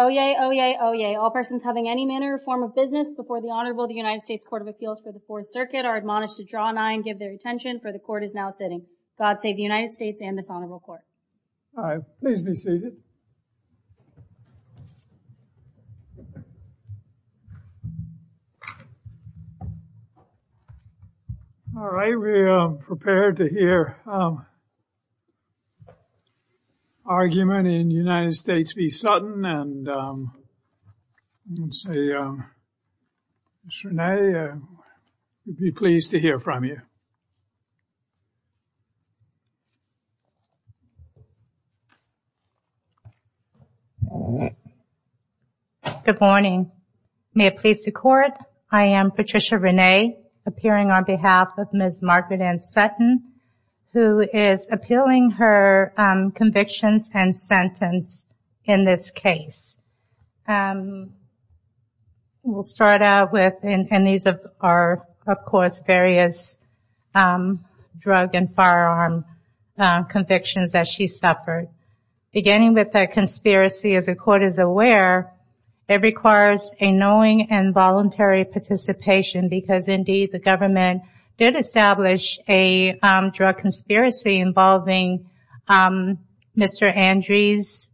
Oyez, oyez, oyez, all persons having any manner or form of business before the Honorable the United States Court of Appeals for the Fourth Circuit are admonished to draw an eye and give their attention, for the Court is now sitting. God save the United States and this Honorable Court. All right, please be seated. All right, we are prepared to hear argument in United States v. Sutton and let's see Ms. Renee, we'd be pleased to hear from you. Good morning, may it please the Court, I am Patricia Renee, appearing on behalf of Ms. Margaret Ann Sutton who is appealing her convictions and sentence in this case. We'll start out with, and these are of course various drug and firearm convictions that she suffered, beginning with a conspiracy, as the Court is aware, it requires a knowing and voluntary participation because indeed the government did establish a drug conspiracy involving Mr. Andrews,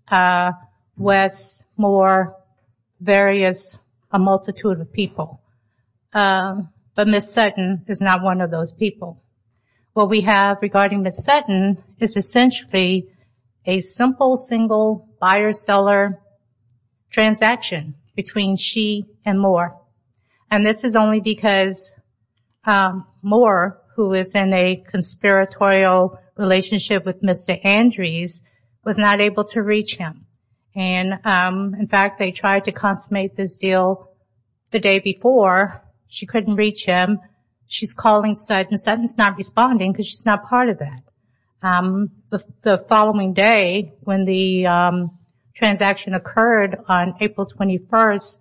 West, Moore, various, a multitude of people, but Ms. Sutton is not one of those people. What we have regarding Ms. Sutton is essentially a simple single buyer-seller transaction between she and Moore, and this is only because Moore, who is in a conspiratorial relationship with Mr. Andrews, was not able to reach him, and in fact they tried to consummate this deal the day before, she couldn't reach him, she's calling Sutton, Sutton's not responding because she's not part of that. The following day, when the transaction occurred on April 21st,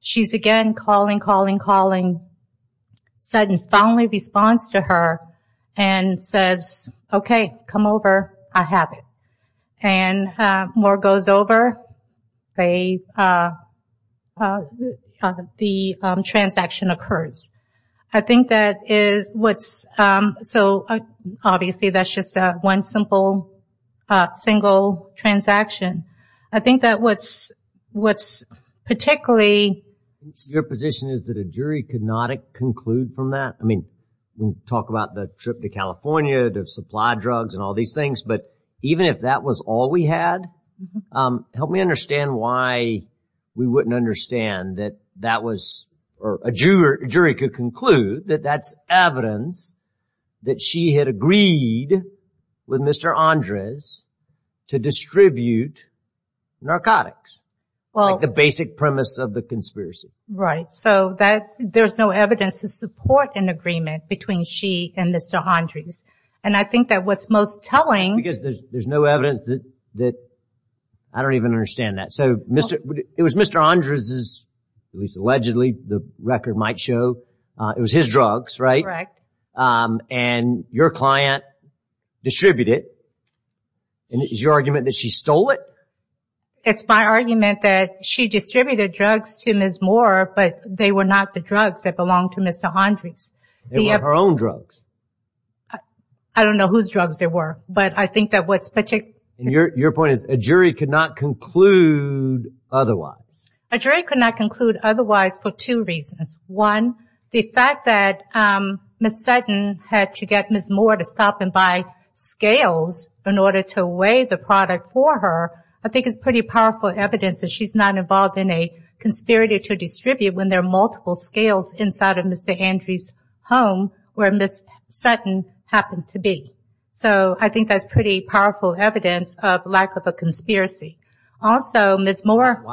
she's again calling, calling, calling, Sutton finally responds to her and says, okay, come over, I have it, and Moore goes over, the transaction occurs. I think that is what's, so obviously that's just one simple single transaction. I think that what's particularly... Your position is that a jury could not conclude from that? I mean, we talk about the trip to California, the supply drugs and all these things, but even if that was all we had, help me understand why we wouldn't understand that that was, or a jury could conclude that that's evidence that she had agreed with Mr. Andrews to distribute narcotics, like the basic premise of the conspiracy. Right, so there's no evidence to support an agreement between she and Mr. Andrews, and I think that what's most telling... Just because there's no evidence that, I don't even understand that, so it was Mr. Andrews's, at least allegedly, the record might show, it was his drugs, right? Correct. And your client distributed, and it's your argument that she stole it? It's my argument that she distributed drugs to Ms. Moore, but they were not the drugs that belonged to Mr. Andrews. They were her own drugs. I don't know whose drugs they were, but I think that what's particular... Your point is a jury could not conclude otherwise. A jury could not conclude otherwise for two reasons. One, the fact that Ms. Sutton had to get Ms. Moore to stop and buy scales in order to weigh the product for her, I think is pretty powerful evidence that she's not involved in a conspiracy to distribute when there are multiple scales inside of Mr. Andrews's home where Ms. Sutton happened to be. So I think that's pretty powerful evidence of lack of a conspiracy. Also Ms. Moore...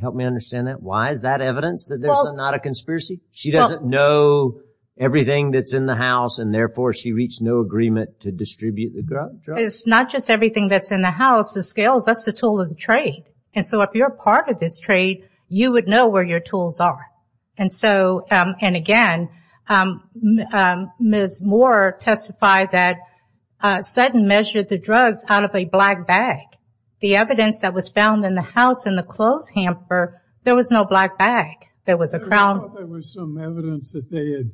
Help me understand that. Why is that evidence that there's not a conspiracy? She doesn't know everything that's in the house, and therefore she reached no agreement to distribute the drugs? It's not just everything that's in the house, the scales, that's the tool of the trade. And so if you're a part of this trade, you would know where your tools are. And so, and again, Ms. Moore testified that Sutton measured the drugs out of a black bag. The evidence that was found in the house in the clothes hamper, there was no black bag. There was a crown... I thought there was some evidence that they had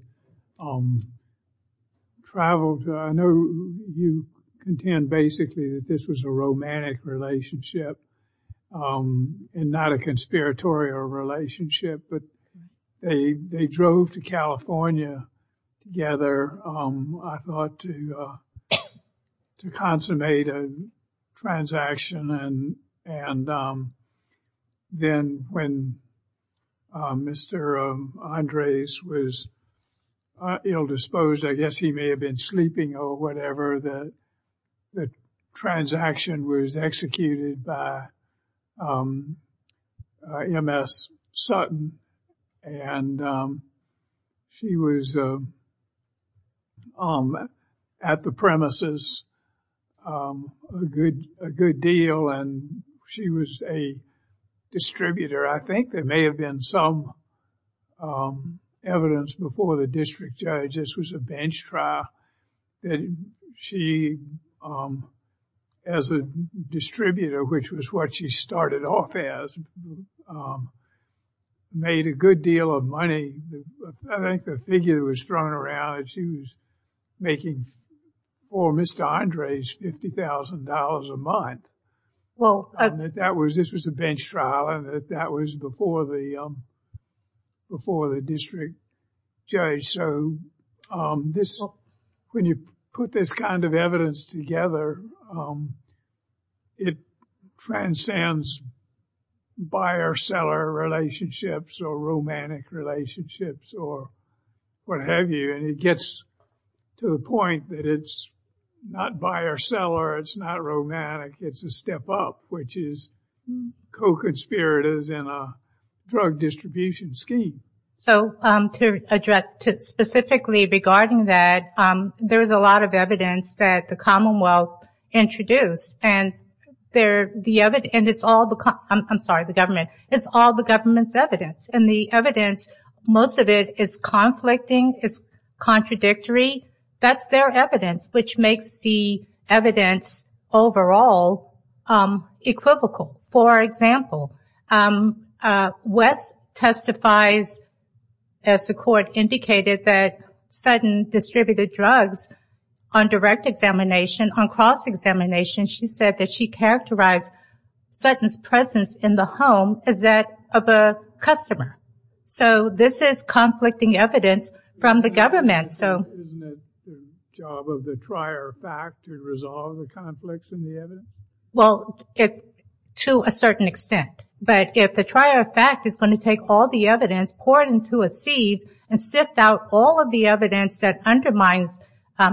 traveled... I know you contend basically that this was a romantic relationship and not a conspiratorial relationship, but they drove to California together, I thought, to consummate a transaction. And then when Mr. Andres was ill-disposed, I guess he may have been sleeping or whatever, the transaction was executed by Ms. Sutton. And she was at the premises a good deal, and she was a distributor. I think there may have been some evidence before the district judge, this was a bench made a good deal of money. I think the figure that was thrown around, she was making for Mr. Andres $50,000 a month. This was a bench trial, and that was before the district judge. So when you put this kind of evidence together, it transcends buyer-seller relationships or romantic relationships or what have you, and it gets to the point that it's not buyer-seller, it's not romantic, it's a step up, which is co-conspirators in a drug distribution scheme. So specifically regarding that, there's a lot of evidence that the Commonwealth introduced, and it's all the government's evidence, and the evidence, most of it is conflicting, it's contradictory, that's their evidence, which makes the evidence overall equivocal. For example, West testifies, as the court indicated, that Sutton distributed drugs on direct examination, on cross-examination, she said that she characterized Sutton's presence in the home as that of a customer. So this is conflicting evidence from the government. Isn't it the job of the trier fact to resolve the conflicts in the evidence? Well, to a certain extent. But if the trier fact is going to take all the evidence, pour it into a sieve, and sift out all of the evidence that undermines a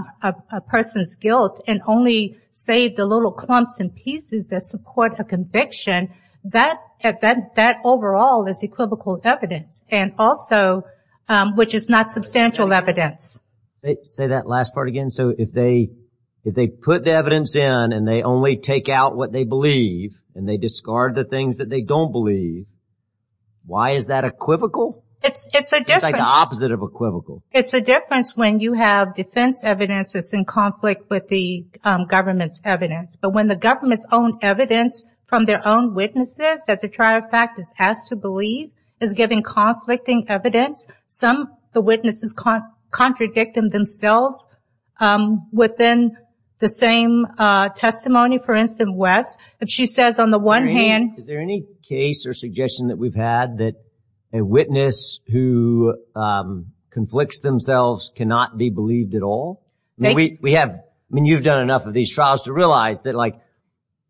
person's guilt and only save the little clumps and pieces that support a conviction, that overall is equivocal evidence, and also, which is not substantial evidence. Say that last part again. So if they put the evidence in, and they only take out what they believe, and they discard the things that they don't believe, why is that equivocal? It's a difference. It's like the opposite of equivocal. It's a difference when you have defense evidence that's in conflict with the government's evidence. But when the government's own evidence from their own witnesses that the trier fact is has to believe is giving conflicting evidence, some of the witnesses contradict them themselves within the same testimony. For instance, Wes, if she says on the one hand... Is there any case or suggestion that we've had that a witness who conflicts themselves cannot be believed at all? We have... I mean, you've done enough of these trials to realize that, like,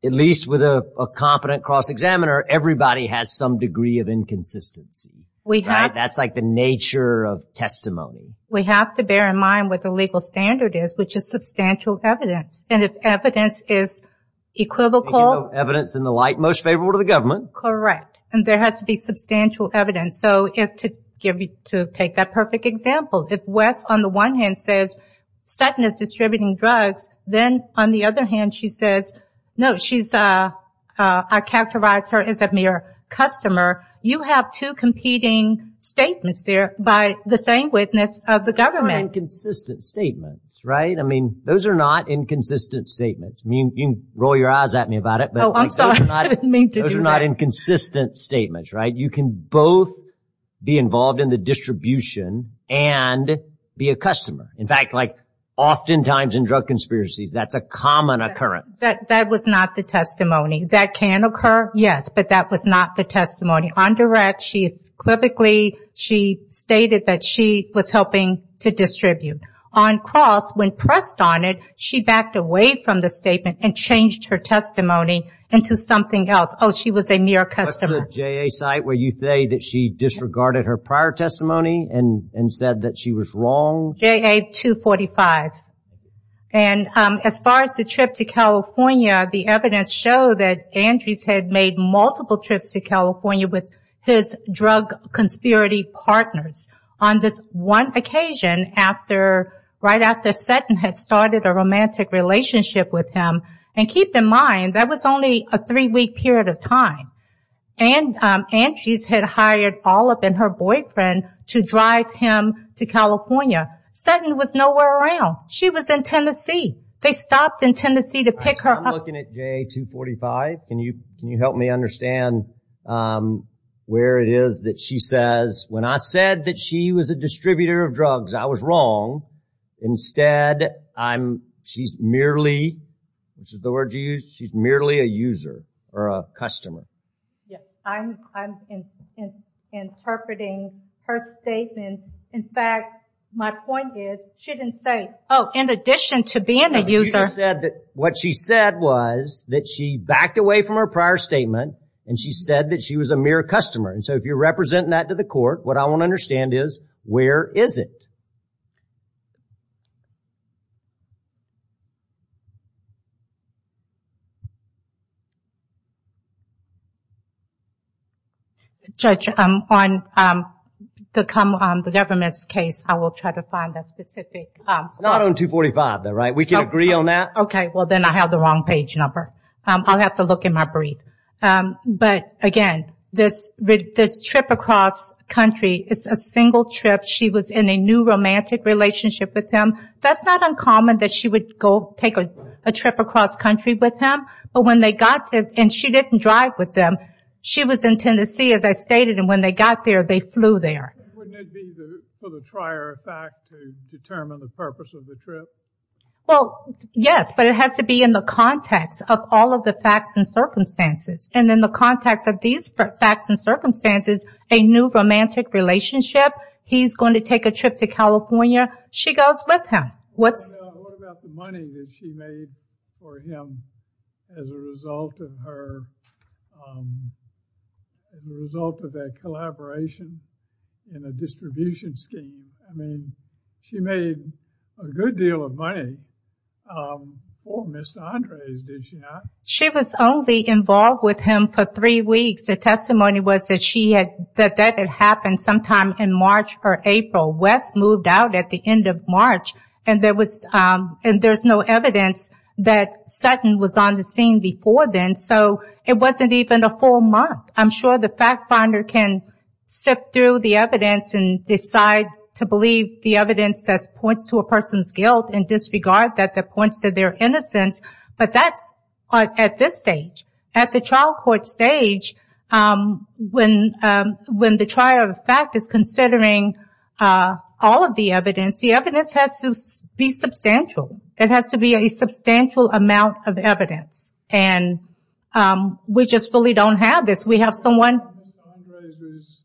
at least with a competent cross-examiner, everybody has some degree of inconsistency. That's like the nature of testimony. We have to bear in mind what the legal standard is, which is substantial evidence. And if evidence is equivocal... Evidence in the light most favorable to the government. Correct. And there has to be substantial evidence. So to take that perfect example, if Wes, on the one hand, says Sutton is distributing drugs, then on the other hand, she says, no, I characterized her as a mere customer. You have two competing statements there by the same witness of the government. Inconsistent statements. Right? I mean, those are not inconsistent statements. I mean, you can roll your eyes at me about it. Oh, I'm sorry. I didn't mean to do that. Those are not inconsistent statements, right? You can both be involved in the distribution and be a customer. In fact, like oftentimes in drug conspiracies, that's a common occurrence. That was not the testimony. That can occur, yes, but that was not the testimony. On direct, she equivocally stated that she was helping to distribute. On cross, when pressed on it, she backed away from the statement and changed her testimony into something else. Oh, she was a mere customer. What's the JA site where you say that she disregarded her prior testimony and said that she was wrong? JA 245. As far as the trip to California, the evidence showed that Andres had made multiple trips to California with his drug conspiracy partners on this one occasion right after Sutton had started a romantic relationship with him. Keep in mind, that was only a three-week period of time, and Andres had hired Olive and her boyfriend to drive him to California. Sutton was nowhere around. She was in Tennessee. They stopped in Tennessee to pick her up. I'm looking at JA 245. Can you help me understand where it is that she says, when I said that she was a distributor of drugs, I was wrong. Instead, she's merely, which is the word you used, she's merely a user or a customer. Yes, I'm interpreting her statement. In fact, my point is, she didn't say, oh, in addition to being a user. What she said was that she backed away from her prior statement and she said that she was a mere customer. So, if you're representing that to the court, what I want to understand is, where is it? Judge, on the government's case, I will try to find a specific spot. Not on 245, though, right? We can agree on that? Okay, well, then I have the wrong page number. I'll have to look in my brief, but again, this trip across country is a single trip. She was in a new romantic relationship with him. That's not uncommon that she would go take a trip across country with him, but when they got there, and she didn't drive with them, she was in Tennessee, as I stated, and when they got there, they flew there. Wouldn't it be for the trier fact to determine the purpose of the trip? Well, yes, but it has to be in the context of all of the facts and circumstances. And in the context of these facts and circumstances, a new romantic relationship, he's going to take a trip to California, she goes with him. What about the money that she made for him as a result of her, as a result of that collaboration in a distribution scheme? I mean, she made a good deal of money for Ms. Andres, did she not? She was only involved with him for three weeks. The testimony was that that had happened sometime in March or April. Wes moved out at the end of March, and there was no evidence that Sutton was on the scene before then, so it wasn't even a full month. I'm sure the fact finder can sift through the evidence and decide to believe the evidence that points to a person's guilt and disregard that points to their innocence, but that's at this stage. At the trial court stage, when the trial of the fact is considering all of the evidence, the evidence has to be substantial. It has to be a substantial amount of evidence. And we just really don't have this. We have someone... Ms. Andres was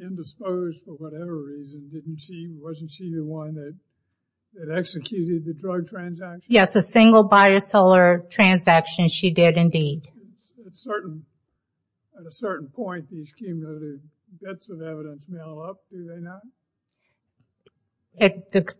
indisposed for whatever reason. Wasn't she the one that executed the drug transaction? Yes, a single buyer-seller transaction she did indeed. At a certain point, these cumulative bits of evidence mail up, do they not?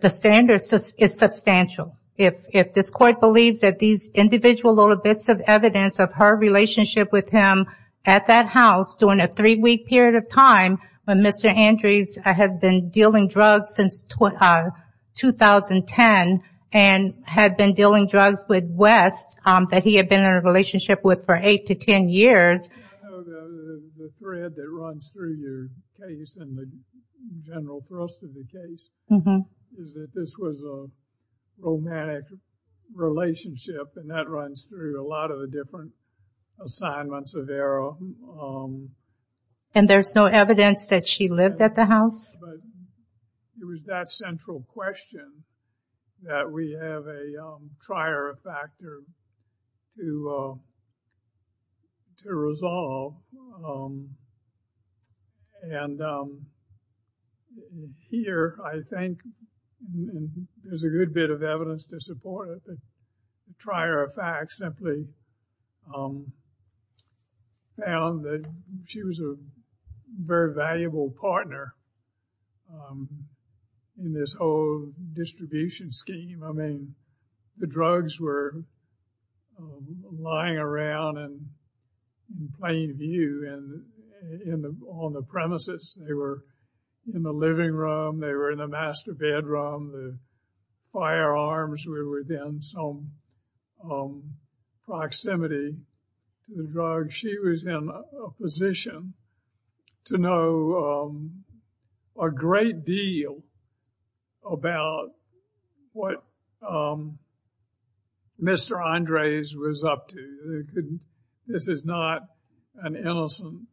The standard is substantial. If this court believes that these individual little bits of evidence of her relationship with him at that house during a three-week period of time when Mr. Andres had been dealing drugs since 2010 and had been dealing drugs with Wes that he had been in a relationship with for eight to ten years... I know the thread that runs through your case and the general thrust of the case is that this was a romantic relationship and that runs through a lot of the different assignments of error. And there's no evidence that she lived at the house? No, but it was that central question that we have a trier-of-factor to resolve. And here, I think there's a good bit of evidence to support it. The trier-of-fact simply found that she was a very valuable partner in this whole distribution scheme. I mean, the drugs were lying around in plain view on the premises. They were in the living room. They were in the master bedroom. The firearms were within some proximity to the drugs. She was in a position to know a great deal about what Mr. Andres was up to. This is not an innocent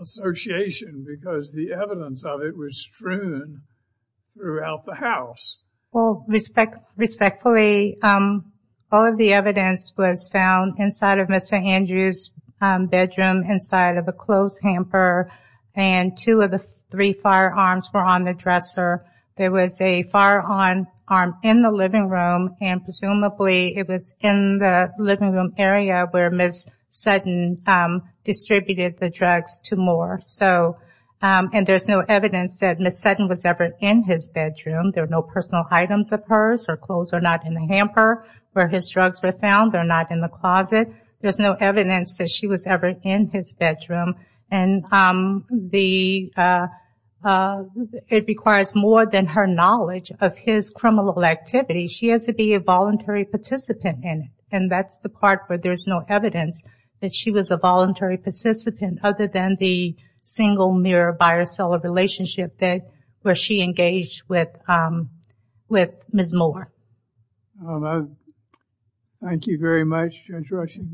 association because the evidence of it was strewn throughout the house. Well, respectfully, all of the evidence was found inside of Mr. Andres' bedroom inside of a clothes hamper and two of the three firearms were on the dresser. There was a firearm in the living room and presumably it was in the living room area where Ms. Sutton distributed the drugs to Moore. And there's no evidence that Ms. Sutton was ever in his bedroom. There are no personal items of hers. Her clothes are not in the hamper where his drugs were found. They're not in the closet. There's no evidence that she was ever in his bedroom. And it requires more than her knowledge of his criminal activity. She has to be a voluntary participant in it. And that's the part where there's no evidence that she was a voluntary participant other than the single mirror buyer-seller relationship where she engaged with Ms. Moore. Thank you very much, Judge Rushing.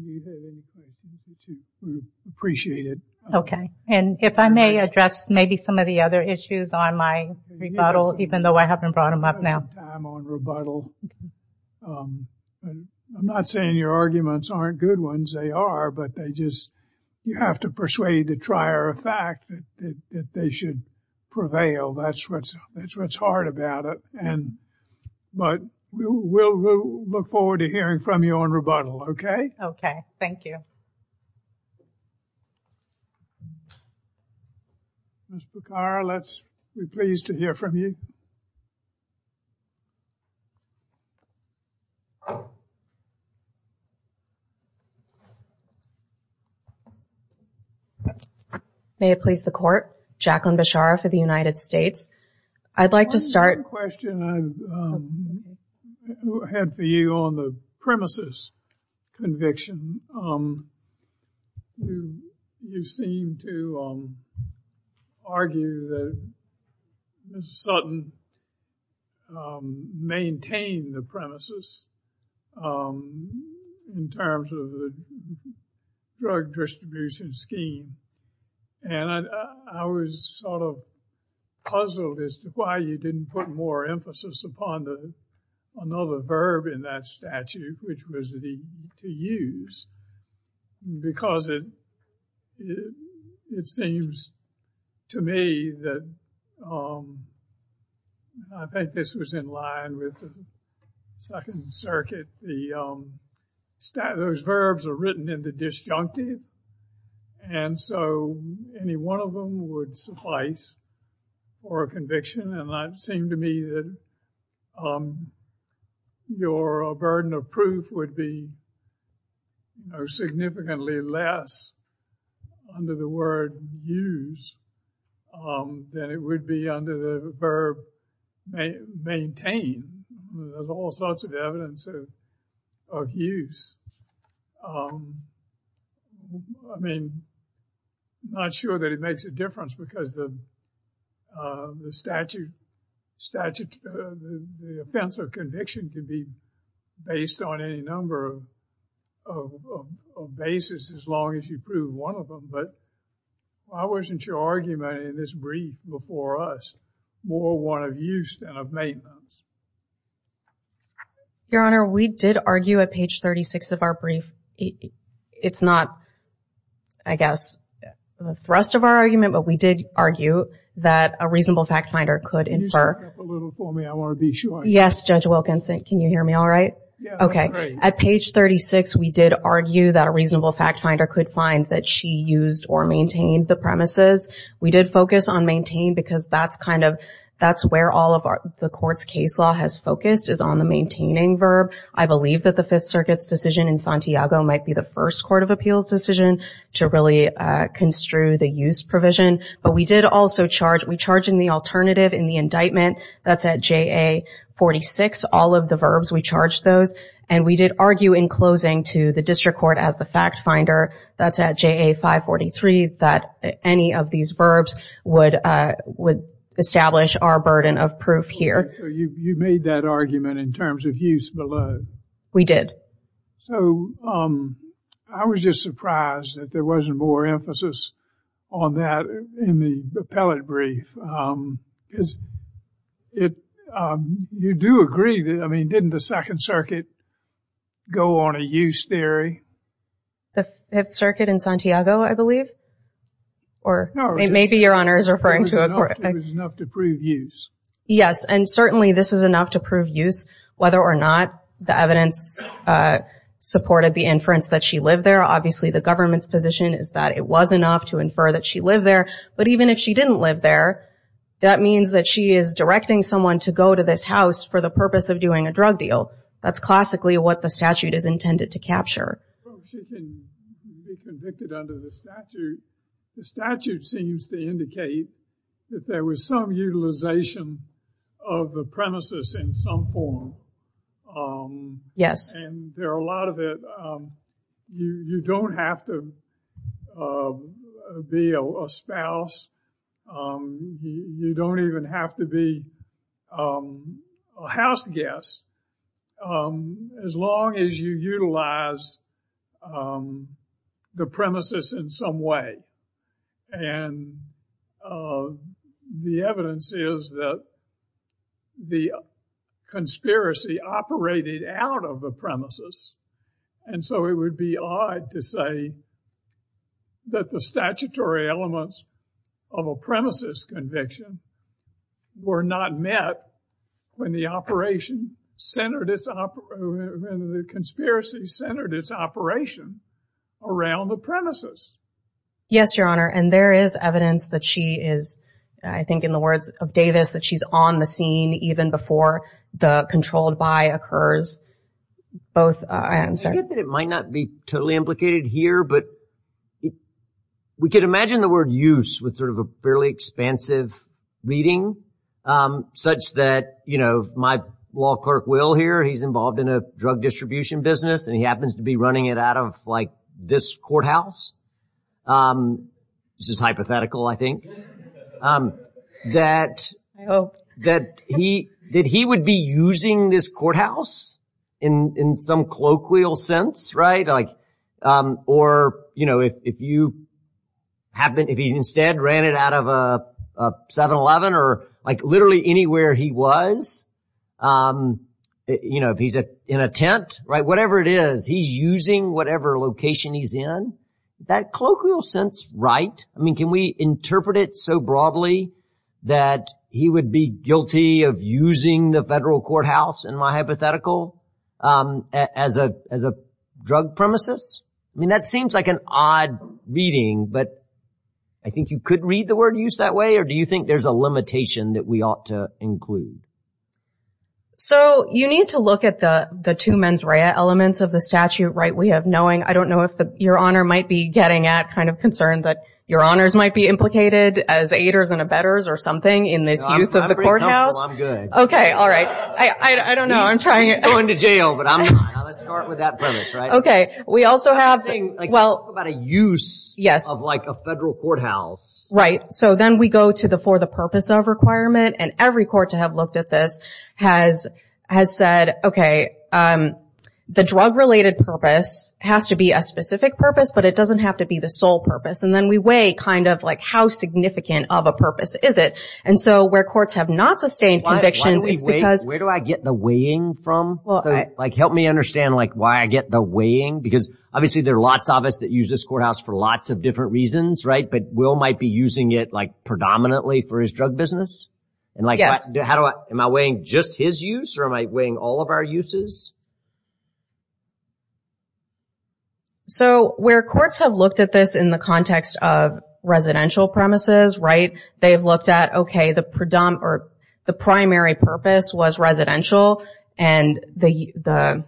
We appreciate it. Okay. And if I may address maybe some of the other issues on my rebuttal, even though I haven't brought them up now. I'm on rebuttal. I'm not saying your arguments aren't good ones. They are, but you have to persuade the trier of fact that they should prevail. That's what's hard about it. But we'll look forward to hearing from you on rebuttal. Thank you. Ms. Bukhara, let's be pleased to hear from you. May it please the Court. Jacqueline Bishara for the United States. I'd like to start. One question I have for you on the premises conviction. You seem to argue that Ms. Sutton maintained the premises in terms of the drug distribution scheme. And I was sort of puzzled as to why you didn't put more emphasis upon another verb in that statute, which was to use. Because it seems to me that I think this was in line with the Second Circuit. Those verbs are written in the disjunctive. And so any one of them would suffice for a conviction. And it seemed to me that your burden of proof would be significantly less under the word use than it would be under the verb maintain. There's all sorts of evidence of use. I mean, I'm not sure that it makes a difference because the statute, the offense of conviction can be based on any number of basis as long as you prove one of them. But why wasn't your argument in this brief before us more one of use than of maintenance? Your Honor, we did argue at page 36 of our brief. It's not, I guess, the thrust of our argument, but we did argue that a reasonable fact finder could infer. Can you back up a little for me? I want to be sure. Yes, Judge Wilkinson. Can you hear me all right? Okay. At page 36, we did argue that a reasonable fact finder could find that she used or maintained the premises. We did focus on maintain because that's kind of, that's where all of the court's case law has focused is on the maintaining verb. I believe that the Fifth Circuit's decision in Santiago might be the first court of appeals decision to really construe the use provision. But we did also charge, we charged in the alternative in the indictment, that's at JA 46, all of the verbs, we charged those. And we did argue in closing to the district court as the fact finder, that's at JA 543, that any of these verbs would establish our burden of proof here. So you made that argument in terms of use below? We did. So I was just surprised that there wasn't more emphasis on that in the appellate brief. You do agree, I mean, didn't the Second Circuit go on a use theory? The Fifth Circuit in Santiago, I believe? Or, it may be Your Honor is referring to it. It was enough to prove use. Yes, and certainly this is enough to prove use. Whether or not the evidence supported the inference that she lived there, obviously the government's position is that it was enough to infer that she lived there. But even if she didn't live there, that means that she is directing someone to go to this house for the purpose of doing a drug deal. That's classically what the statute is intended to capture. She can be convicted under the statute. The statute seems to indicate that there was some utilization of the premises in some form. Yes. And there are a lot of it. You don't have to be a spouse. You don't even have to be a house guest. As long as you utilize the premises in some way. And the evidence is that the conspiracy operated out of the premises. And so it would be odd to say that the statutory elements of a premises conviction were not met when the operation, when the conspiracy centered its operation around the premises. Yes, Your Honor. And there is evidence that she is, I think in the words of Davis, that she's on the scene even before the controlled by occurs. Both, I'm sorry. I get that it might not be totally implicated here, but we could imagine the word use with sort of a fairly expansive reading such that, you know, my law clerk, Will, here, he's involved in a drug distribution business and he happens to be running it out of, like, this courthouse. This is hypothetical, I think. That he would be using this courthouse in some colloquial sense, right? Or, you know, if you, if he instead ran it out of a 7-Eleven or, like, literally anywhere he was, you know, if he's in a tent, right, whatever it is, he's using whatever location he's in. Is that colloquial sense right? I mean, can we interpret it so broadly that he would be guilty of using the federal courthouse, in my hypothetical, as a drug premises? I mean, that seems like an odd reading, but I think you could read the word use that way, or do you think there's a limitation that we ought to include? So, you need to look at the two mens rea elements of the statute, right? We have knowing, I don't know if Your Honor might be getting at kind of concerned that Your Honors might be implicated as aiders and abettors or something in this use of the courthouse. I'm good. Okay, all right. I don't know, I'm trying to... He's going to jail, but I'm not. Now, let's start with that premise, right? We also have... I was saying, talk about a use of a federal courthouse. Right. So, then we go to the, for the purpose of requirement, and every court to have looked at this has said, okay, the drug-related purpose has to be a specific purpose, but it doesn't have to be the sole purpose. And then we weigh kind of like, how significant of a purpose is it? And so, where courts have not sustained convictions, it's because... Where do I get the weighing from? Help me understand why I get the weighing, because obviously there are lots of us that use this courthouse for lots of different reasons, right? But Will might be using it, like, predominantly for his drug business? Yes. And like, how do I... Am I weighing just his use or am I weighing all of our uses? So, where courts have looked at this in the context of residential premises, right, they've looked at, okay, the primary purpose was residential and the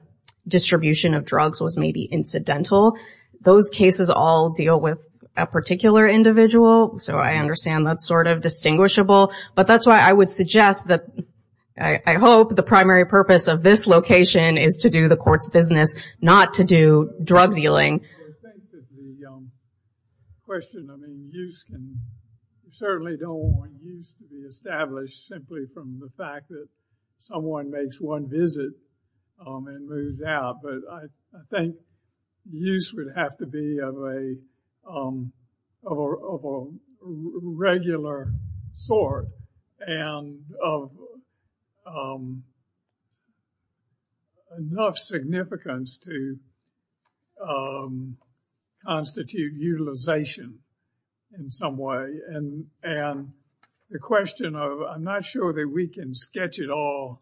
distribution of drugs was maybe incidental. Those cases all deal with a particular individual, so I understand that's sort of distinguishable. But that's why I would suggest that I hope the primary purpose of this location is to do the court's business, not to do drug dealing. I think that the question, I mean, use can... You certainly don't want use to be established simply from the fact that someone makes one visit and moves out. But I think use would have to be of a regular sort and of enough significance to constitute utilization in some way. And the question of, I'm not sure that we can sketch it all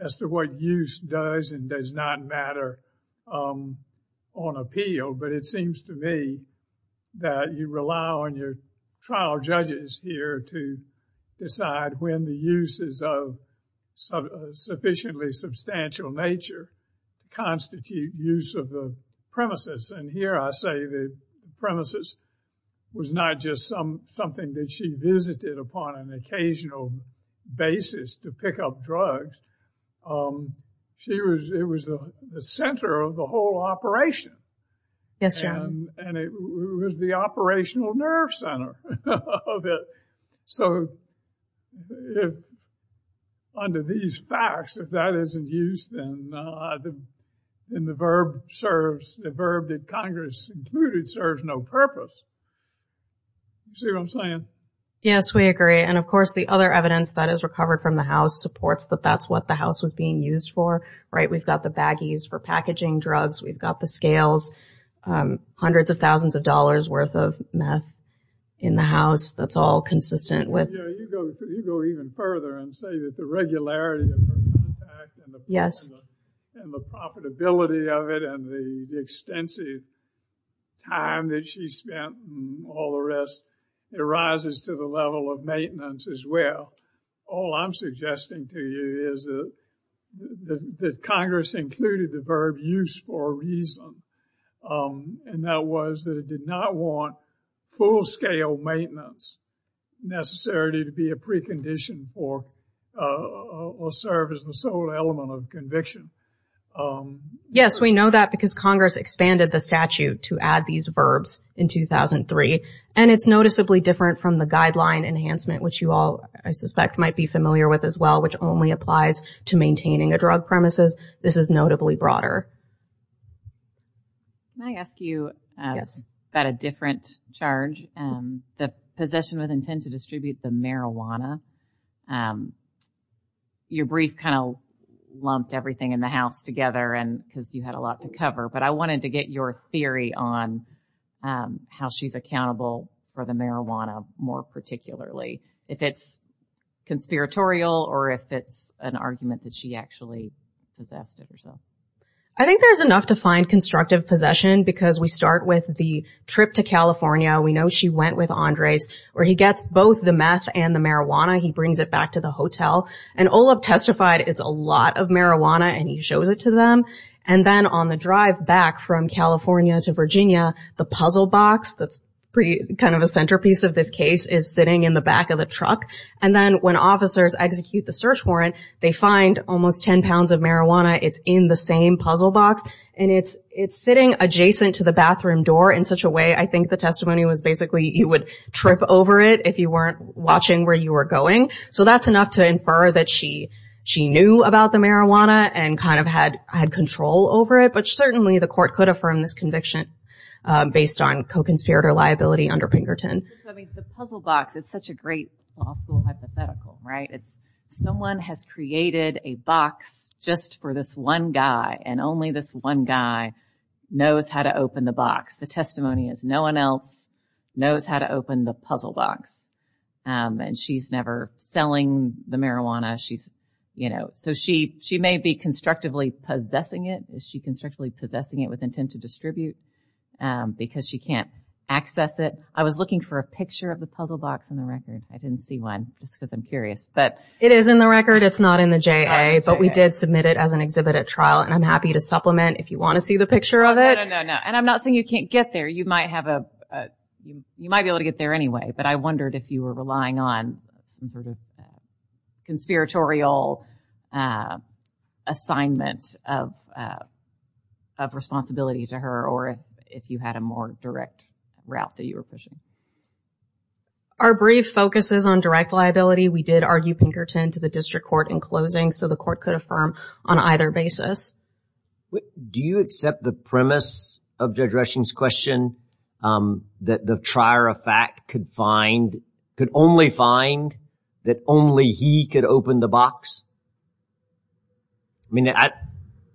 as to what use does and does not matter on appeal, but it seems to me that you rely on your trial judges here to decide when the uses of sufficiently substantial nature constitute use of the premises. And here I say the premises was not just something that she visited upon an occasional basis to pick up drugs. It was the center of the whole operation. Yes, Your Honor. And it was the operational nerve center of it. So, under these facts, if that isn't use, then the verb serves, the verb that Congress included serves no purpose. See what I'm saying? Yes, we agree. And of course, the other evidence that is recovered from the house supports that that's what the house was being used for, right? We've got the baggies for packaging drugs. We've got the scales. Hundreds of thousands of dollars worth of meth in the house. That's all consistent with... Yeah, you go even further and say that the regularity of her contact and the profitability of it and the extensive time that she spent and all the rest arises to the level of maintenance as well. All I'm suggesting to you is that Congress included the verb use for a reason and that was that it did not want full-scale maintenance necessarily to be a precondition or serve as the sole element of conviction. Yes, we know that because Congress expanded the statute to add these verbs in 2003 and it's noticeably different from the guideline enhancement which you all, I suspect, might be familiar with as well which only applies to maintaining a drug premises. This is notably broader. Can I ask you about a different charge? The possession with intent to distribute the marijuana. Your brief kind of lumped everything in the house together because you had a lot to cover but I wanted to get your theory on how she's accountable for the marijuana more particularly if it's conspiratorial or if it's an argument that she actually possessed it herself. I think there's enough to find constructive possession because we start with the trip to California we know she went with Andres where he gets both the meth and the marijuana he brings it back to the hotel and Olav testified it's a lot of marijuana and he shows it to them and then on the drive back from California to Virginia the puzzle box that's kind of a centerpiece of this case is sitting in the back of the truck and then when officers execute the search warrant they find almost 10 pounds of marijuana it's in the same puzzle box and it's sitting adjacent to the bathroom door in such a way I think the testimony was basically you would trip over it if you weren't watching where you were going so that's enough to infer that she knew about the marijuana and kind of had control over it but certainly the court could affirm this conviction based on co-conspirator liability under Pinkerton The puzzle box, it's such a great law school hypothetical someone has created a box just for this one guy and only this one guy knows how to open the box the testimony is no one else knows how to open the puzzle box and she's never selling the marijuana so she may be constructively possessing it with intent to distribute because she can't access it I was looking for a picture of the puzzle box in the record, I didn't see one just because I'm curious It is in the record, it's not in the JA but we did submit it as an exhibit at trial and I'm happy to supplement if you want to see the picture of it and I'm not saying you can't get there you might be able to get there anyway, but I wondered if you were relying on some sort of conspiratorial assignment of responsibility to her or if you had a more direct route that you were pushing Our brief focuses on direct liability we did argue Pinkerton to the district court in closing so the court could affirm on either basis Do you accept the premise of Judge Rushing's question that the trier of fact could only find that only he could open the box I mean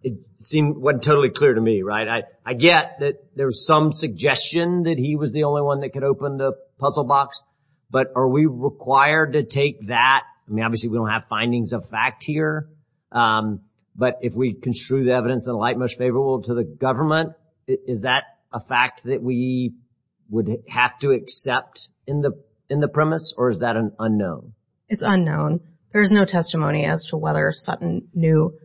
it seemed totally clear to me I get that there's some suggestion that he was the only one that could open the puzzle box but are we required to take that I mean obviously we don't have findings of fact here but if we construe the evidence in light much favorable to the government is that a fact that we would have to accept in the premise or is that unknown it's unknown there's no testimony as to whether Sutton knew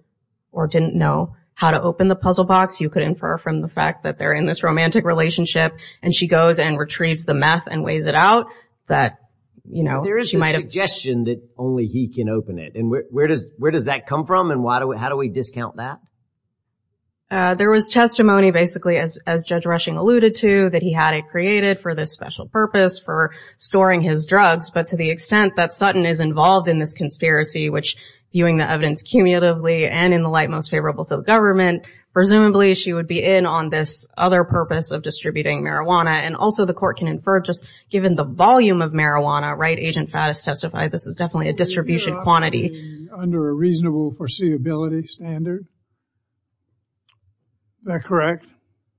or didn't know how to open the puzzle box you could infer from the fact that they're in this romantic relationship and she goes and retrieves the math and weighs it out that you know there is a suggestion that only he can open it and where does where does that come from and why do we how do we discount that there was testimony basically as Judge Rushing alluded to that he had it created for this special purpose for storing his drugs but to the extent that Sutton is involved in this conspiracy which viewing the evidence cumulatively and in the light most favorable to the government presumably she would be in on this other purpose of distributing marijuana and also the court can infer just given the volume of marijuana right agent Faddis testified this is definitely a distribution quantity under a reasonable foreseeability standard is that correct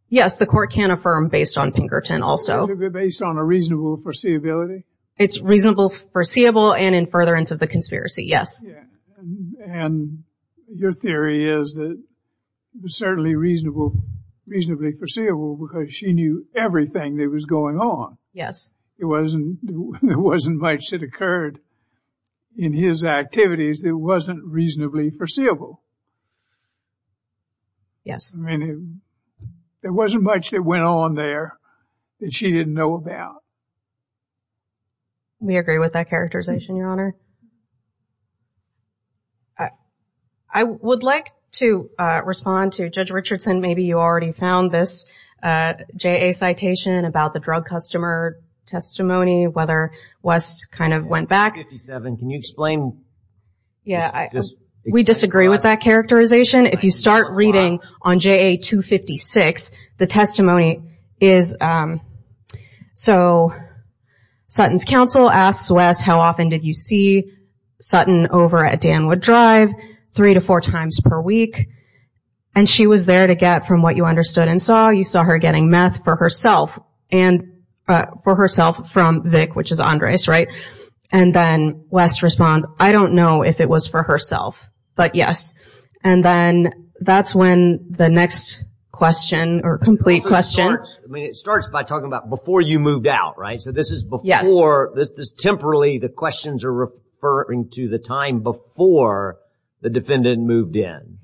yes the court can affirm based on Pinkerton also based on a reasonable foreseeability it's reasonable foreseeable and in furtherance of the conspiracy yes and your theory is that certainly reasonable reasonably foreseeable because she knew everything that was going on yes it wasn't it wasn't much that occurred in his activities that wasn't reasonably foreseeable yes I mean it wasn't much that went on there that she didn't know about we agree with that characterization your honor I would like to respond to Judge Richardson maybe you already found this JA citation about the drug customer testimony whether West kind of went back can you explain we disagree with that characterization if you start reading on JA 256 the testimony is so Sutton's counsel asked Wes how often did you see Sutton over at Danwood Drive three to four times per week and she was there to get from what you understood and saw you saw her getting meth for herself and for herself from Vic which is Andres right and then Wes responds I don't know if it was for herself but yes and then that's when the next question or complete question starts by talking about before you moved out right so this is before temporarily the questions are referring to the time before the defendant moved in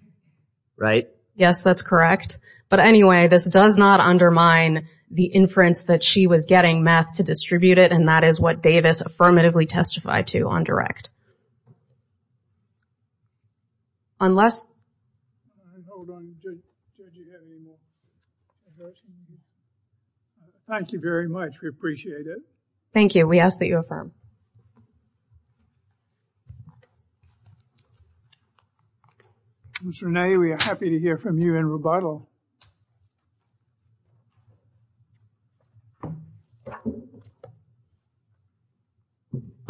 right yes that's correct but anyway this does not undermine the inference that she was getting meth to distribute it and that is what Davis affirmatively testified to on direct unless thank you very much we appreciate it thank you we ask that you affirm Ms. Renee we are happy to hear from you in rebuttal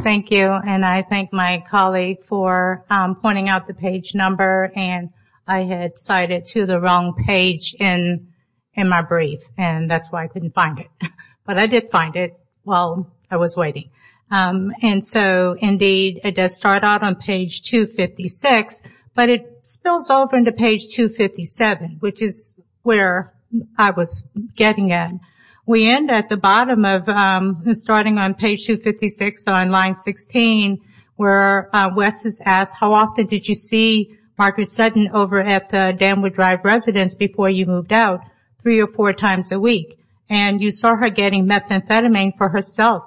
thank you and I thank my colleague for pointing out the page number and I had cited to the wrong page in my brief and that's why I couldn't find it but I did find it while I was waiting and so indeed it does start out on page 256 but it spills over into page 257 which is where I was getting at we end at the bottom of starting on page 256 on line 16 where Wes has asked how often did you see Margaret Sutton over at the Danwood Drive residence before you moved out three or four times a week and you saw her getting methamphetamine for herself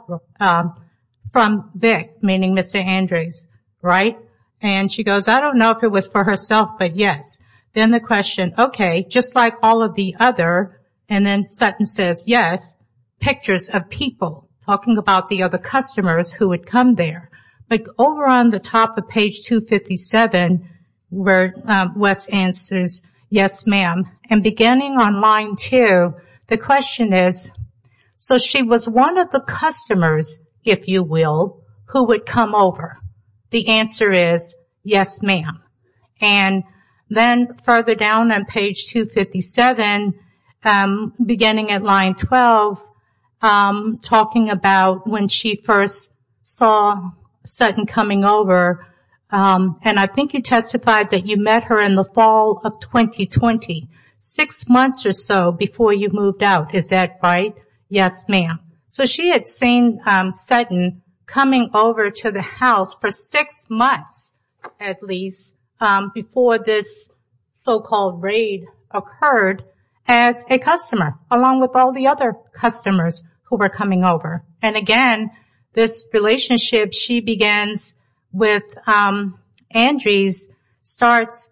from Vic meaning Mr. Andres right and she goes I don't know if it was for herself but yes then the question okay just like all of the other and then Sutton says yes pictures of people talking about the other customers who would come there but over on the top of page 257 where Wes answers yes ma'am and beginning on line 2 the question is so she was one of the customers if you will who would come over the answer is yes ma'am and then further down on page 257 beginning at line 12 talking about when she first saw Sutton coming over and I think you testified that you met her in the fall of 2020 six months or so before you moved out is that right yes ma'am so she had seen Sutton coming over to the house for six months at least before this so called raid occurred as a customer along with all the other customers who were coming over and again this relationship she begins with Andrews starts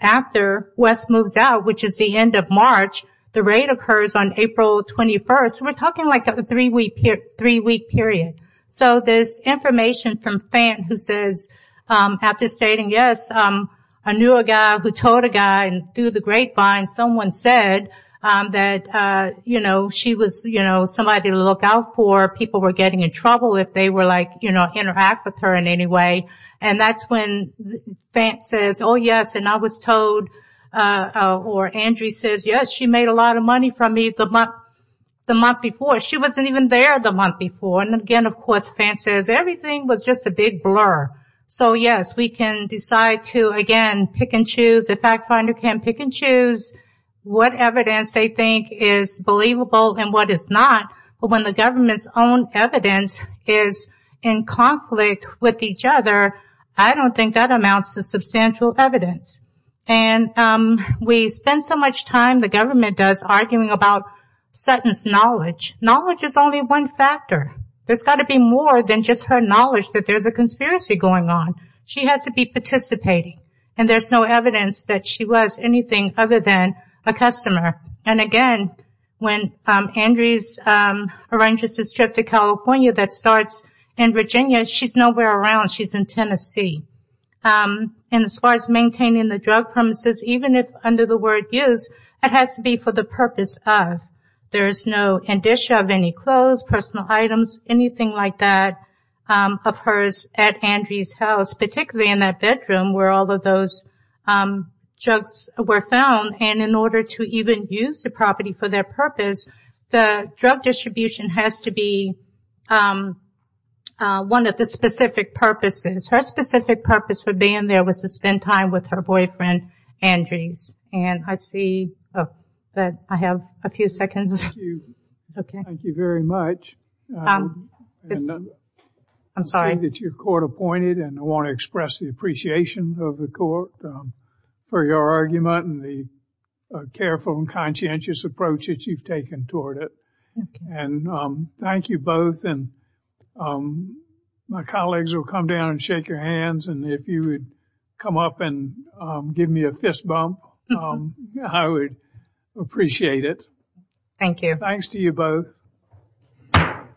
after Wes moves out which is the end of March the raid occurs on April 21st so we're talking like a three week period so this information from Fann who says after stating yes I knew a guy who told a guy and through the grapevine someone said that you know she was you know somebody to look out for people were getting in trouble if they were like you know interact with her in any way and that's when Fann says oh yes and I was told or Andrew says yes she made a lot of money from me the month before she wasn't even there the month before and again of course Fann says everything was just a big blur so yes we can decide to again pick and choose the fact finder can't pick and choose what evidence they think is believable and what is not but when the government's own evidence is in conflict with each other I don't think that amounts to substantial evidence and we spend so much time the government does arguing about sentence knowledge knowledge is only one factor there's got to be more than just her knowledge that there's a conspiracy going on she has to be participating and there's no evidence that she was anything other than a customer and again when Andrews arranges his trip to California that starts in Virginia she's nowhere around she's in Tennessee and as far as maintaining the drug premises even if under the word use it has to be for the purpose of there's no of any clothes personal items anything like that of hers at Andrews house particularly in that bedroom where all of those drugs were found and in order to even use the property for their purpose the drug distribution has to be one of the specific purposes her specific purpose for being there was to spend time with her boyfriend Andrews and I see that I have a few seconds thank you very much I'm sorry your court appointed and I want to express the appreciation of the court for your argument and the careful and conscientious approach that you've taken toward it and thank you both and my colleagues will come down and shake your hands and if you would come up and give me a fist bump I would appreciate it thank you thanks to you both thank you